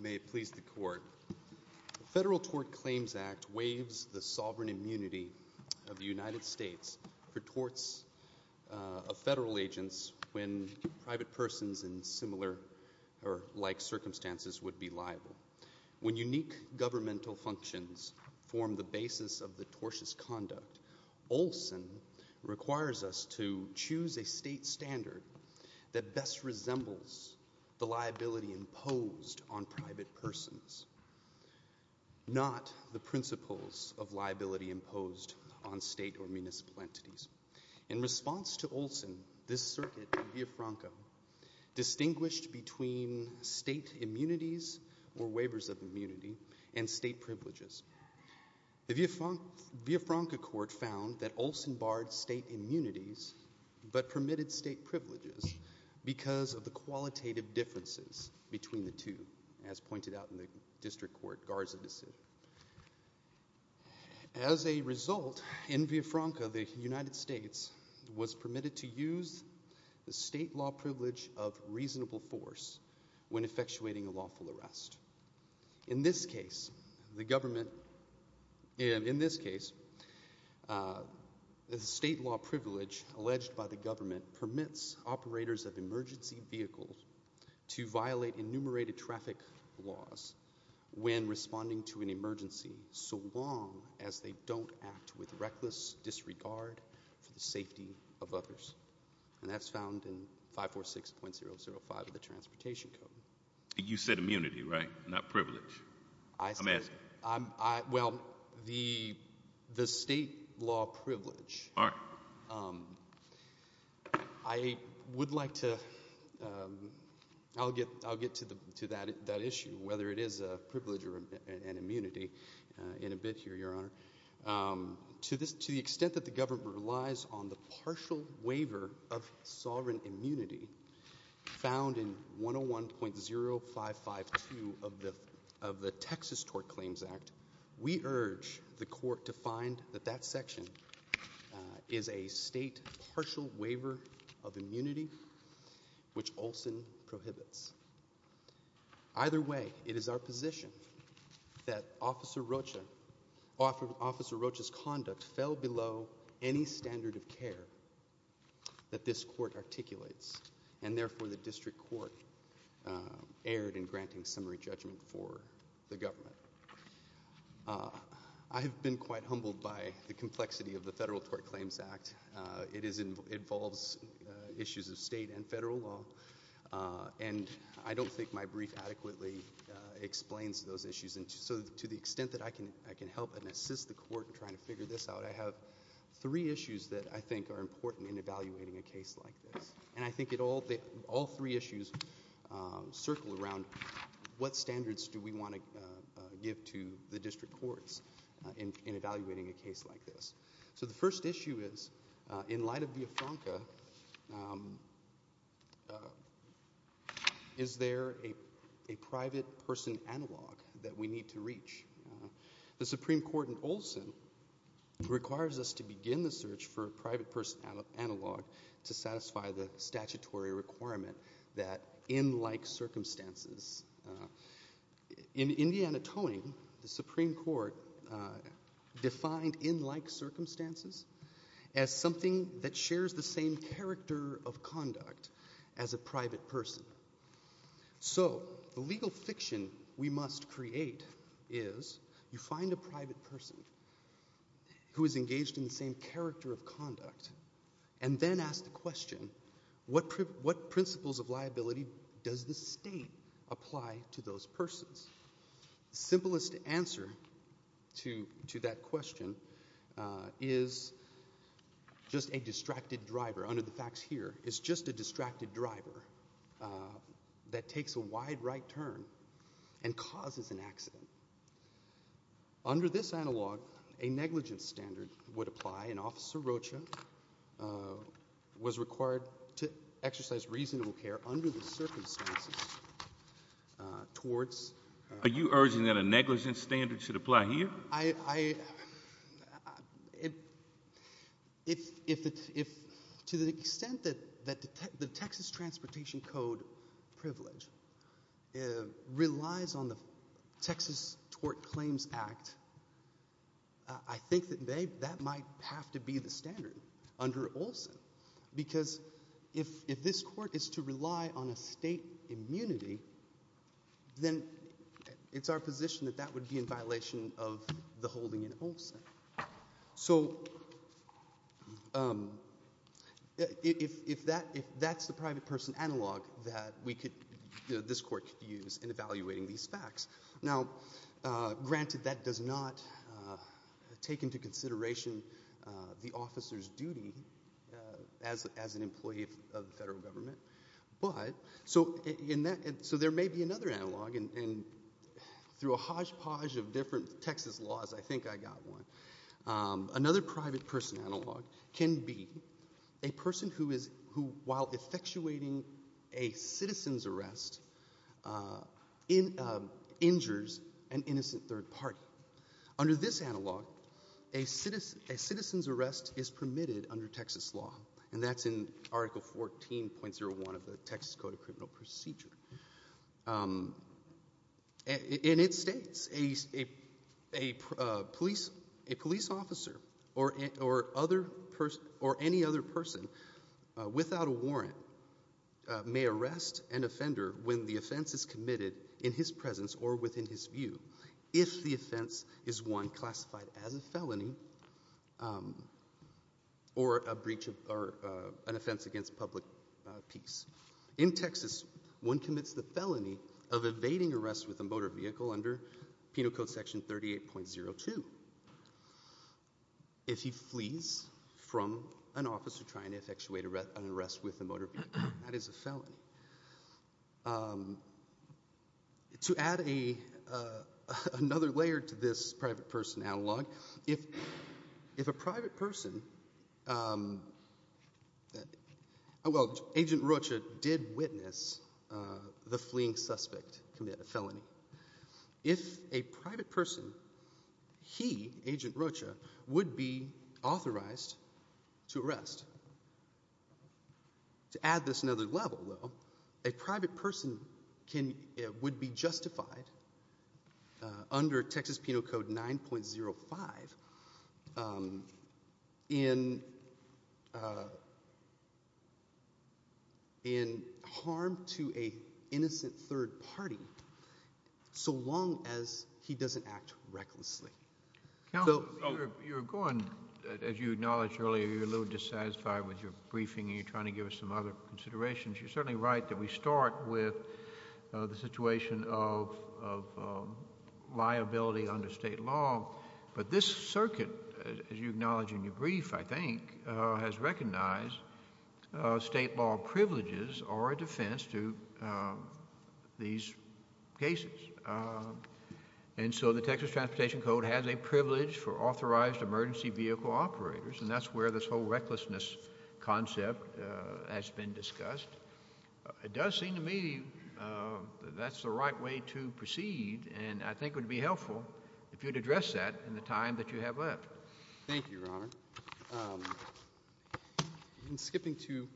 May it please the Court, the Federal Tort Claims Act waives the sovereign immunity of the United States for torts of federal agents when private persons in similar or like circumstances would be liable. When unique governmental functions form the basis of the tortious conduct, Olson requires us to choose a state standard that best resembles the liability imposed on private persons, not the principles of liability imposed on state or municipal entities. In response to Olson, this circuit in Villafranca distinguished between state immunities or waivers of immunity and state privileges. The Villafranca Court found that Olson barred state immunities but permitted state privileges because of the qualitative differences between the two, as pointed out in the District Court Garza decision. As a result, in Villafranca, the United States was permitted to use the state law privilege of reasonable force when effectuating a lawful arrest. In this case, the government, in this case, the state law privilege alleged by the government permits operators of emergency vehicles to violate enumerated traffic laws when responding to an emergency so long as they don't act with reckless disregard for the safety of others. And that's found in 546.005 of the Transportation Code. You said immunity, right? Not privilege. I'm asking. Well, the state law privilege, I would like to, I'll get to that issue, whether it is a privilege or an immunity in a bit here, Your Honor. To the extent that the government relies on the partial waiver of sovereign immunity found in 101.0552 of the Texas Tort Claims Act, we urge the court to find that that section is a state partial waiver of immunity which Olson prohibits. Either way, it is our position that Officer Rocha, Officer Rocha's conduct fell below any standard of care that this court articulates, and therefore the district court erred in granting summary judgment for the government. I have been quite humbled by the complexity of the Federal Tort Claims Act. It involves issues of state and federal law, and I don't think my brief adequately explains those issues. To the extent that I can help and assist the court in trying to figure this out, I have three issues that I think are important in evaluating a case like this. I think all three issues circle around what standards do we want to give to the district courts in evaluating a case like this. The first issue is, in light of the AFONCA, is there a private person analog that we need to reach? The Supreme Court in Olson requires us to begin the search for a private person analog to satisfy the statutory requirement that in like circumstances. In Indiana Towing, the Supreme Court defined in like circumstances as something that shares the same character of conduct as a private person. So the legal fiction we must create is, you find a private person who is engaged in the same character of conduct, and then ask the question, what principles of liability does the state apply to those persons? The simplest answer to that question is just a distracted driver, under the facts here, is just a distracted driver that takes a wide right turn and causes an accident. Under this analog, a negligence standard would apply, and Officer Rocha was required to exercise reasonable care under the circumstances towards... Are you urging that a negligence standard should apply here? To the extent that the Texas Transportation Code privilege relies on the Texas Tort Claims Act, I think that that might have to be the standard under Olson. Because if this court is to rely on a state immunity, then it's our position that that would be in violation of the holding in Olson. So if that's the private person analog that this court could use in evaluating these facts. Now, granted that does not take into consideration the officer's duty as an employee of the federal government, but... so there may be another analog, and through a hodgepodge of different Texas laws, I think I got one. Another private person analog can be a person who, while effectuating a citizen's arrest, injures an innocent third party. Under this analog, a citizen's arrest is permitted under Texas law, and that's in Article 14.01 of the Texas Code of Criminal Procedure. And it states, a police officer or any other person without a warrant may arrest an offender when the offense is committed in his presence or within his view, if the offense is one classified as a felony or an offense against public peace. In Texas, one commits the felony of evading arrest with a motor vehicle under Penal Code Section 38.02 if he flees from an officer trying to effectuate an arrest with a motor vehicle. That is a felony. To add another layer to this private person analog, if a private person... well, Agent Rocha did witness the fleeing suspect commit a felony. If a private person, he, Agent Rocha, would be authorized to arrest. To add this another level, though, a private person would be justified under Texas Penal Code 9.05 in harm to an innocent third party so long as he doesn't act recklessly. Counsel, you were going, as you acknowledged earlier, you were a little dissatisfied with your briefing and you're trying to give us some other considerations. You're certainly right that we start with the situation of liability under state law. But this circuit, as you acknowledge in your brief, I think, has recognized state law privileges or a defense to these cases. And so the Texas Transportation Code has a privilege for authorized emergency vehicle operators and that's where this whole recklessness concept has been discussed. It does seem to me that that's the right way to proceed and I think it would be helpful if you'd address that in the time that you have left. Thank you, Your Honor. In skipping to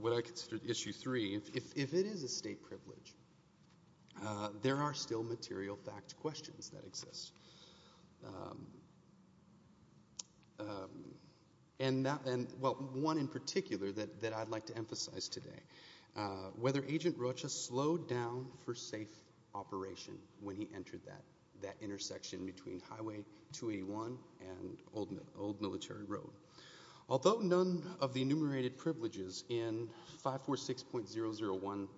what I consider Issue 3, if it is a state privilege, there are still material fact questions that exist and one in particular that I'd like to emphasize today. Whether Agent Rocha slowed down for safe operation when he entered that intersection between Highway 281 and Old Military Road. Although none of the enumerated privileges in 546.001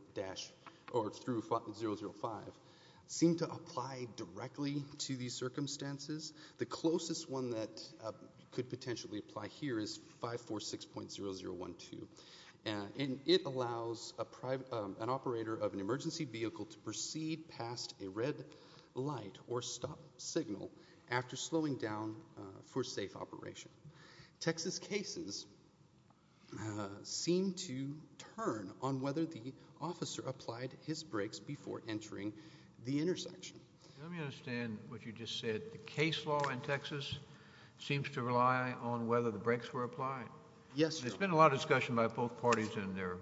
through 5005 seem to apply directly to these circumstances, the closest one that could potentially apply here is 546.0012. And it allows an operator of an emergency vehicle to proceed past a red light or stop signal after slowing down for safe operation. Texas cases seem to turn on whether the officer applied his brakes before entering the intersection. Let me understand what you just said. The case law in Texas seems to rely on whether the brakes were applied. Yes, Your Honor. There's been a lot of discussion by both parties in their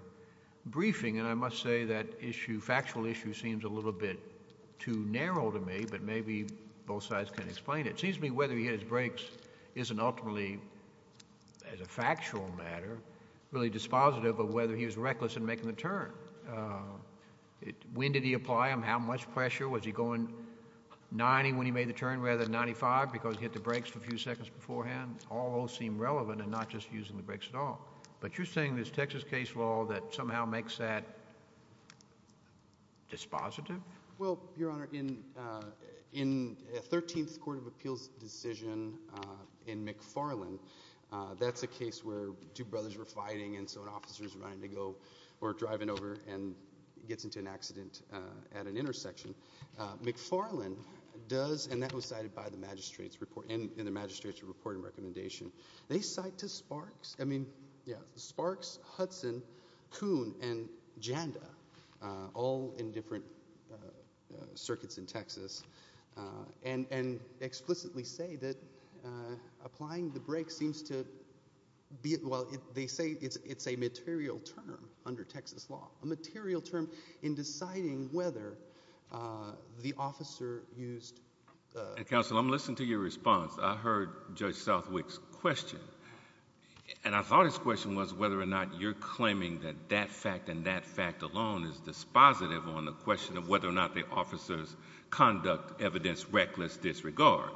briefing and I must say that issue, factual issue, seems a little bit too narrow to me, but maybe both sides can explain it. It seems to me whether he hit his brakes isn't ultimately, as a factual matter, really dispositive of whether he was reckless in making the turn. When did he apply them? How much pressure? Was he going 90 when he made the turn rather than 95 because he hit the brakes a few seconds beforehand? I mean, all those seem relevant and not just using the brakes at all, but you're saying there's Texas case law that somehow makes that dispositive? Well, Your Honor, in 13th Court of Appeals decision in McFarland, that's a case where two brothers were fighting and so an officer is running to go or driving over and gets into an accident at an intersection. McFarland does, and that was cited by the magistrate's report, in the magistrate's report and recommendation, they cite to Sparks, I mean, yeah, Sparks, Hudson, Kuhn, and Janda, all in different circuits in Texas, and explicitly say that applying the brakes seems to be, well, they say it's a material term under Texas law, a material term in deciding whether the officer used the brakes. And, Counsel, I'm listening to your response. I heard Judge Southwick's question, and I thought his question was whether or not you're claiming that that fact and that fact alone is dispositive on the question of whether or not the officer's conduct, evidence, reckless disregard.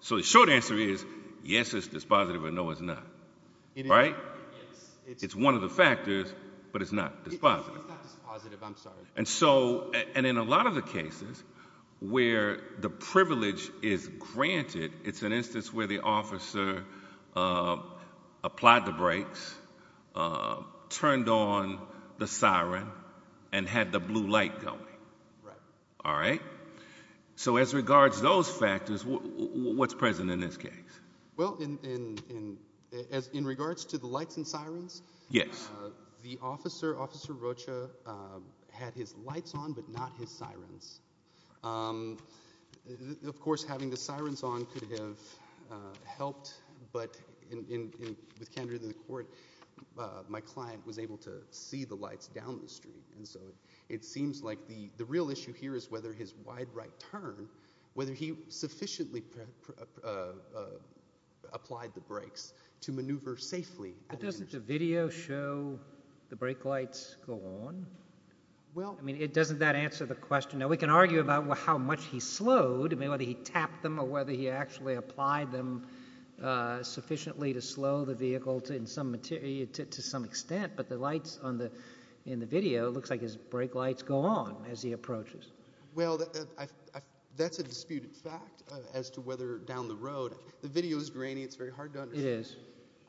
So the short answer is, yes, it's dispositive, or no, it's not, right? It's one of the factors, but it's not dispositive. It's not dispositive, I'm sorry. And so, and in a lot of the cases where the privilege is granted, it's an instance where the officer applied the brakes, turned on the siren, and had the blue light going. Right. All right? So as regards to those factors, what's present in this case? Well, in regards to the lights and sirens, the officer, Officer Rocha, had his lights on but not his sirens. Of course, having the sirens on could have helped, but with candor to the court, my client was able to see the lights down the street. And so it seems like the real issue here is whether his wide right turn, whether he sufficiently applied the brakes to maneuver safely. But doesn't the video show the brake lights go on? Well... I mean, doesn't that answer the question? Now, we can argue about how much he slowed, I mean, whether he tapped them or whether he actually applied them sufficiently to slow the vehicle to some extent, but the lights on the, in the video, it looks like his brake lights go on as he approaches. Well, that's a disputed fact as to whether down the road, the video is grainy, it's very hard to understand. It is.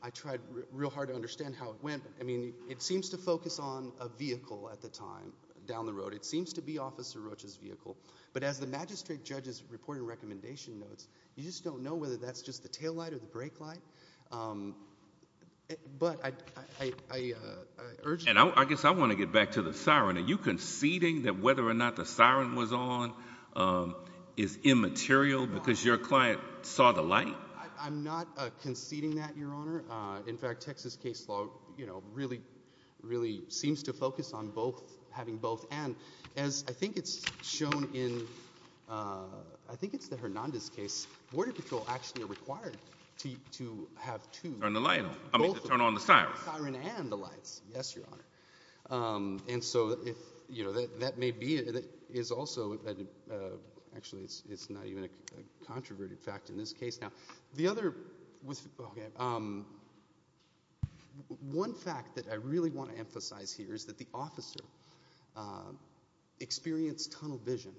I tried real hard to understand how it went. I mean, it seems to focus on a vehicle at the time, down the road. It seems to be Officer Rocha's vehicle. But as the magistrate judge's reporting recommendation notes, you just don't know whether that's just the tail light or the brake light. But I urge... And I guess I want to get back to the siren. Are you conceding that whether or not the siren was on is immaterial because your client saw the light? I'm not conceding that, Your Honor. In fact, Texas case law, you know, really, really seems to focus on both, having both. And as I think it's shown in, I think it's the Hernandez case, border patrol actually required to have two... Turn the light on. I mean, to turn on the siren. Both the siren and the lights, yes, Your Honor. And so, you know, that may be... Is also... Actually, it's not even a controverted fact in this case now. The other... One fact that I really want to emphasize here is that the officer experienced tunnel vision,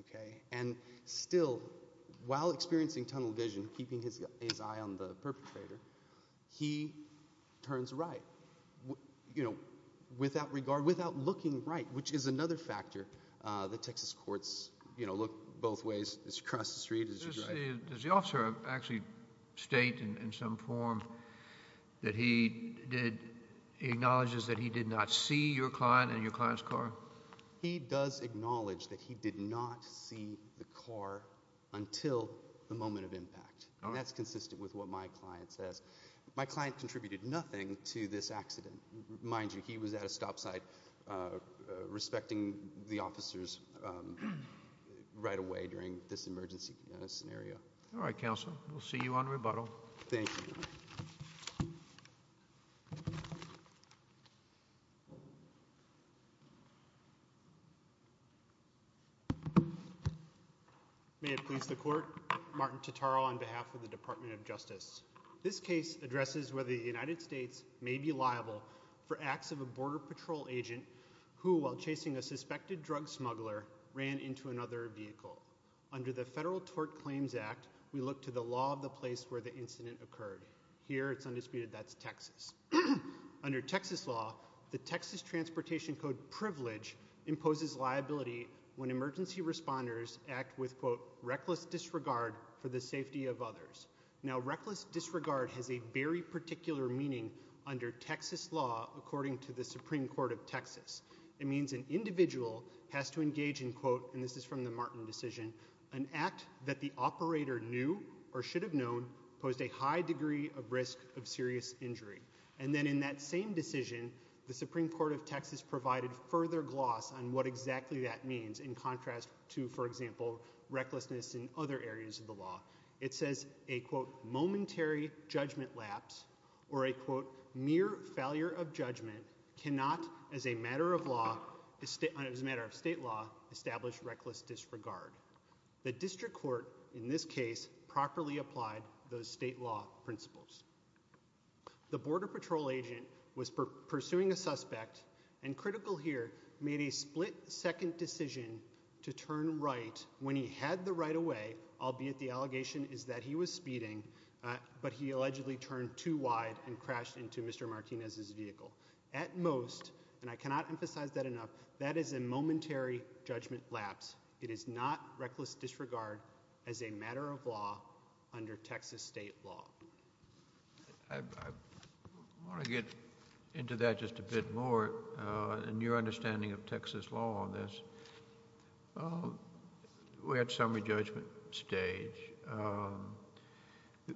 okay? And still, while experiencing tunnel vision, keeping his eye on the perpetrator, he turns right, you know, without regard, without looking right, which is another factor that Texas courts, you know, look both ways as you cross the street, as you drive. Does the officer actually state in some form that he did, he acknowledges that he did not see your client and your client's car? He does acknowledge that he did not see the car until the moment of impact. That's consistent with what my client says. My client contributed nothing to this accident. Mind you, he was at a stop sign respecting the officers right away during this emergency scenario. All right, counsel. We'll see you on rebuttal. Thank you, Your Honor. May it please the court, Martin Tataro on behalf of the Department of Justice. This case addresses whether the United States may be liable for acts of a border patrol agent who, while chasing a suspected drug smuggler, ran into another vehicle. Under the Federal Tort Claims Act, we look to the law of the place where the incident occurred. Here, it's undisputed that's Texas. Under Texas law, the Texas Transportation Code privilege imposes liability when emergency responders act with, quote, reckless disregard for the safety of others. Now, reckless disregard has a very particular meaning under Texas law according to the Supreme Court of Texas. It means an individual has to engage in, quote, and this is from the Martin decision, an act that the operator knew or should have known posed a high degree of risk of serious injury. And then in that same decision, the Supreme Court of Texas provided further gloss on what exactly that means in contrast to, for example, recklessness in other areas of the law. It says a, quote, momentary judgment lapse or a, quote, mere failure of judgment cannot as a matter of law, as a matter of state law, establish reckless disregard. The district court, in this case, properly applied those state law principles. The border patrol agent was pursuing a suspect and, critical here, made a split second decision to turn right when he had the right-of-way, albeit the allegation is that he was speeding, but he allegedly turned too wide and crashed into Mr. Martinez's vehicle. At most, and I cannot emphasize that enough, that is a momentary judgment lapse. It is not reckless disregard as a matter of law under Texas state law. I want to get into that just a bit more and your understanding of Texas law on this. We're at summary judgment stage.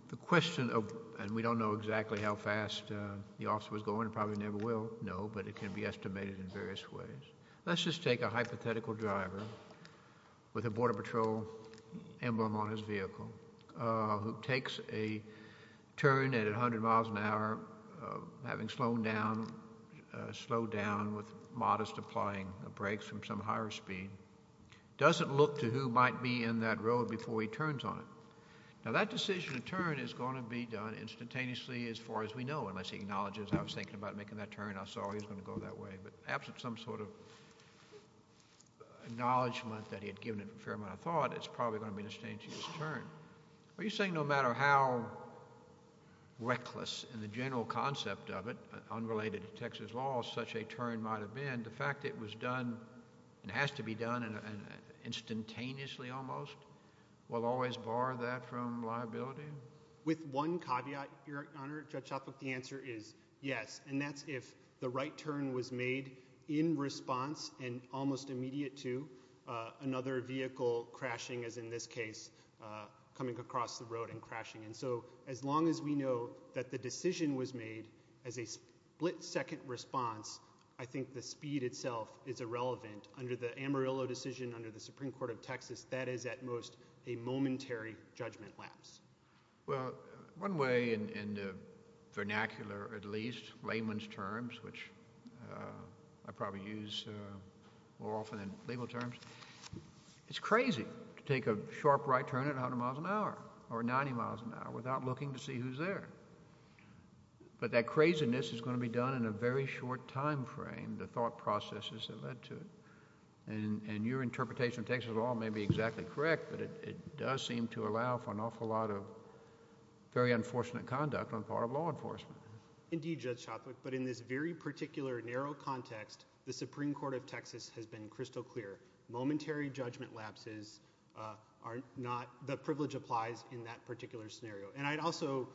The question of, and we don't know exactly how fast the officer was going, probably never will know, but it can be estimated in various ways. Let's just take a hypothetical driver with a border patrol emblem on his vehicle who takes a turn at 100 miles an hour, having slowed down with modest applying brakes from some higher speed, doesn't look to who might be in that road before he turns on it. Now, that decision to turn is going to be done instantaneously as far as we know, unless he acknowledges I was thinking about making that turn, I saw he was going to go that way, but absent some sort of acknowledgement that he had given it a fair amount of thought, it's probably going to be a disdain to his turn. Are you saying no matter how reckless in the general concept of it, unrelated to Texas law, such a turn might have been, the fact it was done and has to be done instantaneously almost, will always bar that from liability? With one caveat, Your Honor, Judge Shotwell, the answer is yes, and that's if the right turn was made in response and almost immediate to another vehicle crashing, as in this case, coming across the road and crashing. And so as long as we know that the decision was made as a split-second response, I think the speed itself is irrelevant under the Amarillo decision under the Supreme Court of Texas. That is at most a momentary judgment lapse. Well, one way in the vernacular at least, layman's terms, which I probably use more often than legal terms, it's crazy to take a sharp right turn at 100 miles an hour or 90 miles an hour without looking to see who's there. But that craziness is going to be done in a very short time frame, the thought processes that led to it. And your interpretation of Texas law may be exactly correct, but it does seem to allow for an awful lot of very unfortunate conduct on the part of law enforcement. Indeed, Judge Shotwell, but in this very particular narrow context, the Supreme Court of Texas has been crystal clear. Momentary judgment lapses are not... the privilege applies in that particular scenario. And I'd also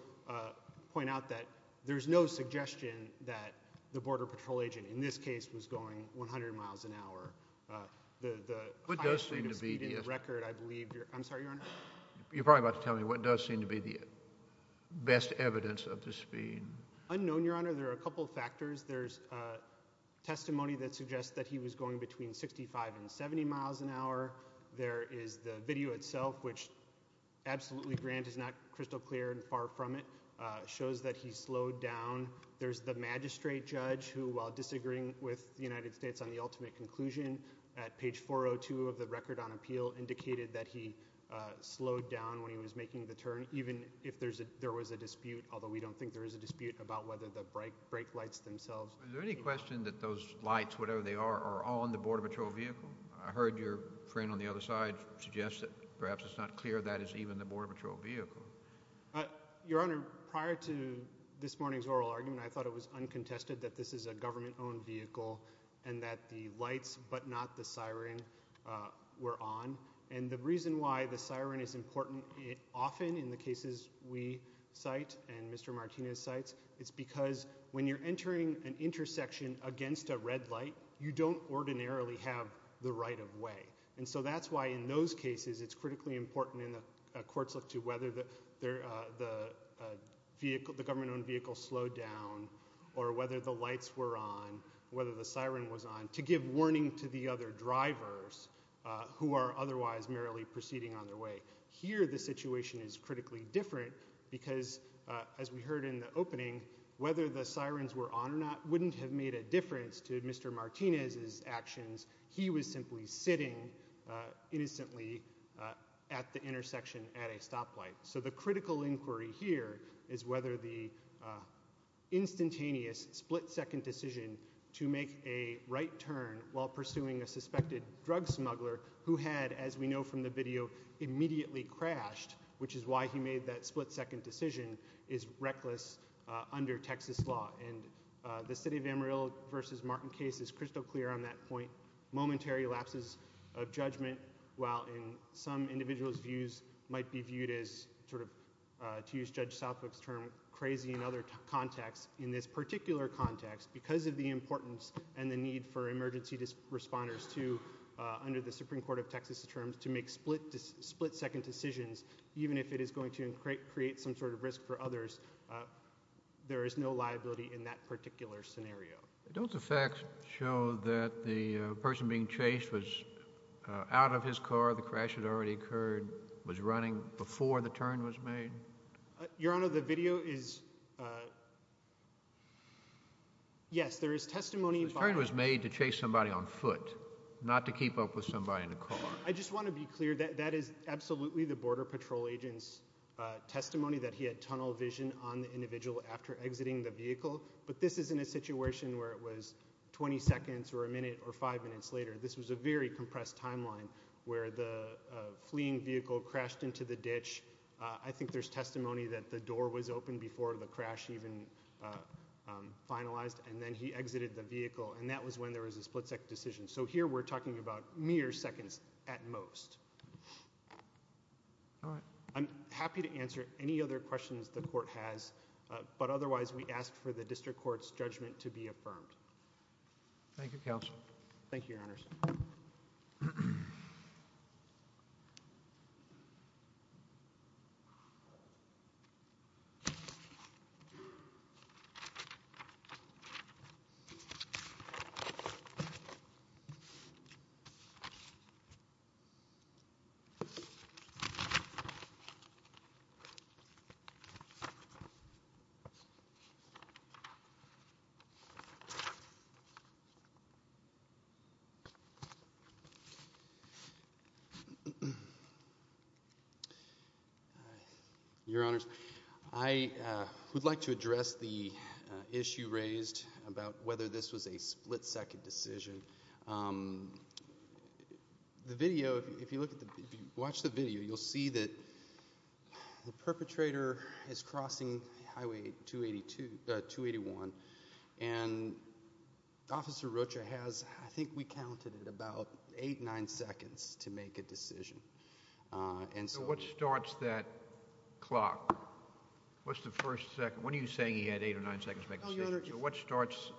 point out that there's no suggestion that the border patrol agent in this case was going 100 miles an hour. The highest rate of speed in the record, I believe... I'm sorry, Your Honor? You're probably about to tell me what does seem to be the best evidence of the speed. Unknown, Your Honor, there are a couple factors. There's testimony that suggests that he was going between 65 and 70 miles an hour. There is the video itself, which absolutely, Grant, is not crystal clear and far from it, shows that he slowed down. There's the magistrate judge who, while disagreeing with the United States on the ultimate conclusion, at page 402 of the record on appeal indicated that he slowed down when he was making the turn, even if there was a dispute, although we don't think there is a dispute about whether the brake lights themselves... Is there any question that those lights, whatever they are, are on the border patrol vehicle? I heard your friend on the other side suggest that perhaps it's not clear that it's even the border patrol vehicle. Your Honor, prior to this morning's oral argument, I thought it was uncontested that this is a government-owned vehicle and that the lights but not the siren were on. And the reason why the siren is important often in the cases we cite and Mr. Martinez cites, it's because when you're entering an intersection against a red light, you don't ordinarily have the right-of-way. And so that's why in those cases, it's critically important in the court's look to whether the government-owned vehicle slowed down or whether the lights were on, whether the siren was on, to give warning to the other drivers who are otherwise merely proceeding on their way. Here, the situation is critically different because, as we heard in the opening, whether the sirens were on or not wouldn't have made a difference to Mr. Martinez's actions. He was simply sitting innocently at the intersection at a stoplight. So the critical inquiry here is whether the instantaneous split-second decision to make a right turn while pursuing a suspected drug smuggler who had, as we know from the video, immediately crashed, which is why he made that split-second decision, is reckless under Texas law. And the City of Amarillo v. Martin case is crystal clear on that point. Momentary lapses of judgment, while in some individuals' views, might be viewed as sort of, to use Judge Southbrook's term, crazy in other contexts. In this particular context, because of the importance and the need for emergency responders to, under the Supreme Court of Texas terms, to make split-second decisions, even if it is going to create some sort of risk for others, there is no liability in that particular scenario. Don't the facts show that the person being chased was out of his car, the crash had already occurred, was running before the turn was made? Your Honor, the video is, yes, there is testimony. The turn was made to chase somebody on foot, not to keep up with somebody in a car. I just want to be clear that that is absolutely the Border Patrol agent's testimony that he had tunnel vision on the individual after exiting the vehicle, but this isn't a situation where it was 20 seconds or a minute or five minutes later. This was a very compressed timeline where the fleeing vehicle crashed into the ditch. I think there's testimony that the door was open before the crash even finalized, and then he exited the vehicle, and that was when there was a split-second decision. So here we're talking about mere seconds at most. I'm happy to answer any other questions the Court has, but otherwise we ask for the District Court's judgment to be affirmed. Thank you, Counsel. Your Honor, I would like to address the issue raised about whether this was a split-second decision. The video, if you watch the video, you'll see that the perpetrator is crossing Highway 281, and Officer Rocha has, I think we counted it, about eight, nine seconds to make a decision. So what starts that clock? What's the first second? When are you saying he had eight or nine seconds to make a decision? So what starts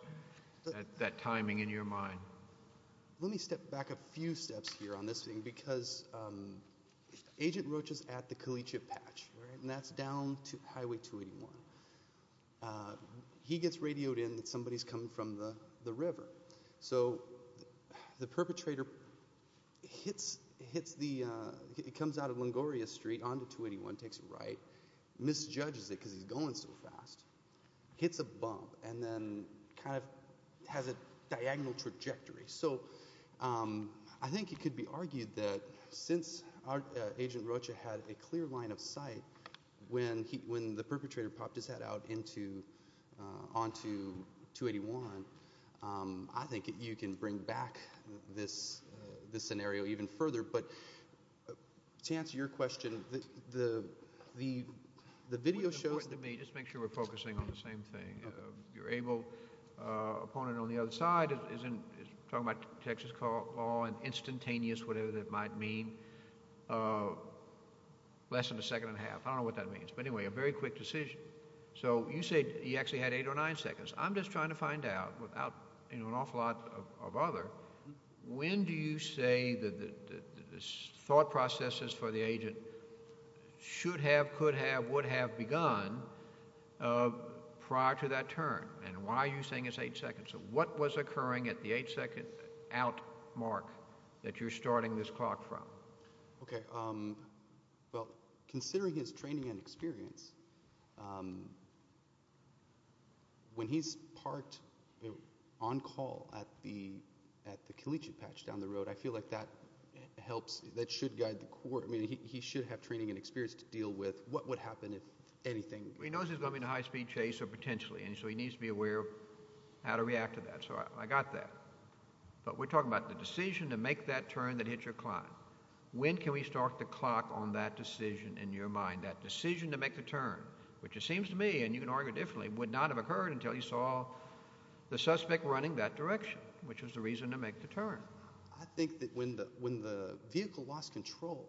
that timing in your mind? Let me step back a few steps here on this thing, because Agent Rocha's at the Calicia Patch, and that's down to Highway 281. He gets radioed in that somebody's coming from the river. So the perpetrator hits the, he comes out of Longoria Street onto 281, takes a right, misjudges it because he's going so fast, hits a bump, and then kind of has a diagonal trajectory. So I think it could be argued that since Agent Rocha had a clear line of sight when the perpetrator popped his head out into, onto 281, I think you can bring back this scenario even further. But to answer your question, the video shows... Just make sure we're focusing on the same thing. Your able opponent on the other side is talking about Texas law and instantaneous whatever that might mean, less than a second and a half. I don't know what that means, but anyway, a very quick decision. So you say he actually had eight or nine seconds. I'm just trying to find out without, you know, an awful lot of other, when do you say the thought processes for the agent should have, could have, would have begun prior to that turn, and why are you saying it's eight seconds? So what was occurring at the eight second out mark that you're starting this clock from? Okay, well, considering his training and experience, when he's parked on call at the, at the Caliche patch down the road, I feel like that helps, that should guide the court, I mean, he should have training and experience to deal with what would happen if anything... He knows he's going to be in a high speed chase or potentially, and so he needs to be aware of how to react to that. So I got that. But we're talking about the decision to make that turn that hit your client. When can we start the clock on that decision in your mind, that decision to make the turn, which it seems to me, and you can argue differently, would not have occurred until you saw the suspect running that direction, which was the reason to make the turn. I think that when the, when the vehicle lost control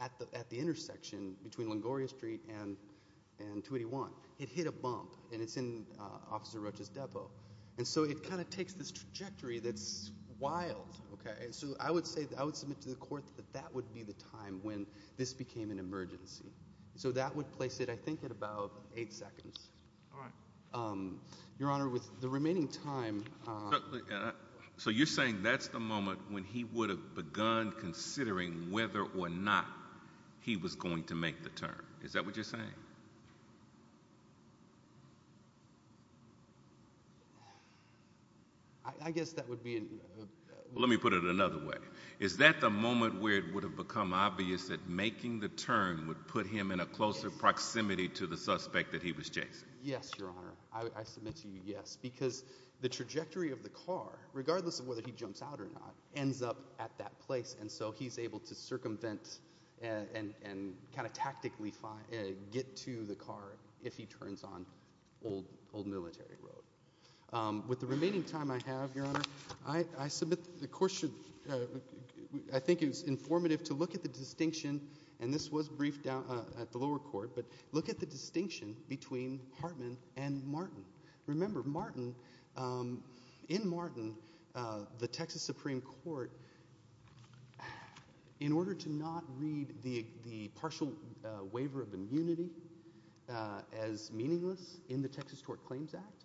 at the, at the intersection between Longoria Street and, and 281, it hit a bump, and it's in Officer Rocha's depot, and so it kind of takes this trajectory that's wild, okay. So I would say, I would submit to the court that that would be the time when this became an emergency. So that would place it, I think, at about eight seconds. All right. Your Honor, with the remaining time... So you're saying that's the moment when he would have begun considering whether or not he was going to make the turn. Is that what you're saying? I guess that would be... Let me put it another way. Is that the moment where it would have become obvious that making the turn would put him in a closer proximity to the suspect that he was chasing? Yes, Your Honor. I submit to you, yes, because the trajectory of the car, regardless of whether he jumps out or not, ends up at that place, and so he's able to circumvent and, and, and kind of tactically find, get to the car if he turns on Old, Old Military Road. With the remaining time I have, Your Honor, I, I submit the court should, I think it's informative to look at the distinction, and this was briefed down at the lower court, but look at the distinction between Hartman and Martin. Remember, Martin, in Martin, the Texas Supreme Court, in order to not read the, the partial waiver of immunity as meaningless in the Texas Tort Claims Act,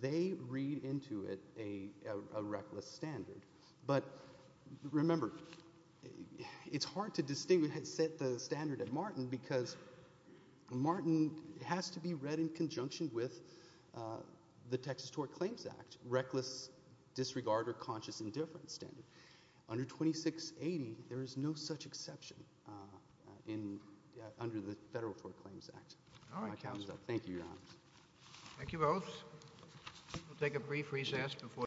they read into it a, a reckless standard. But remember, it's hard to distinguish, set the standard at Martin because Martin has to be read in conjunction with the Texas Tort Claims Act, reckless disregard or conscious indifference standard. Under 2680, there is no such exception in, under the Federal Tort Claims Act. All right, counsel. Thank you, Your Honor. Thank you both. We'll take a brief recess before.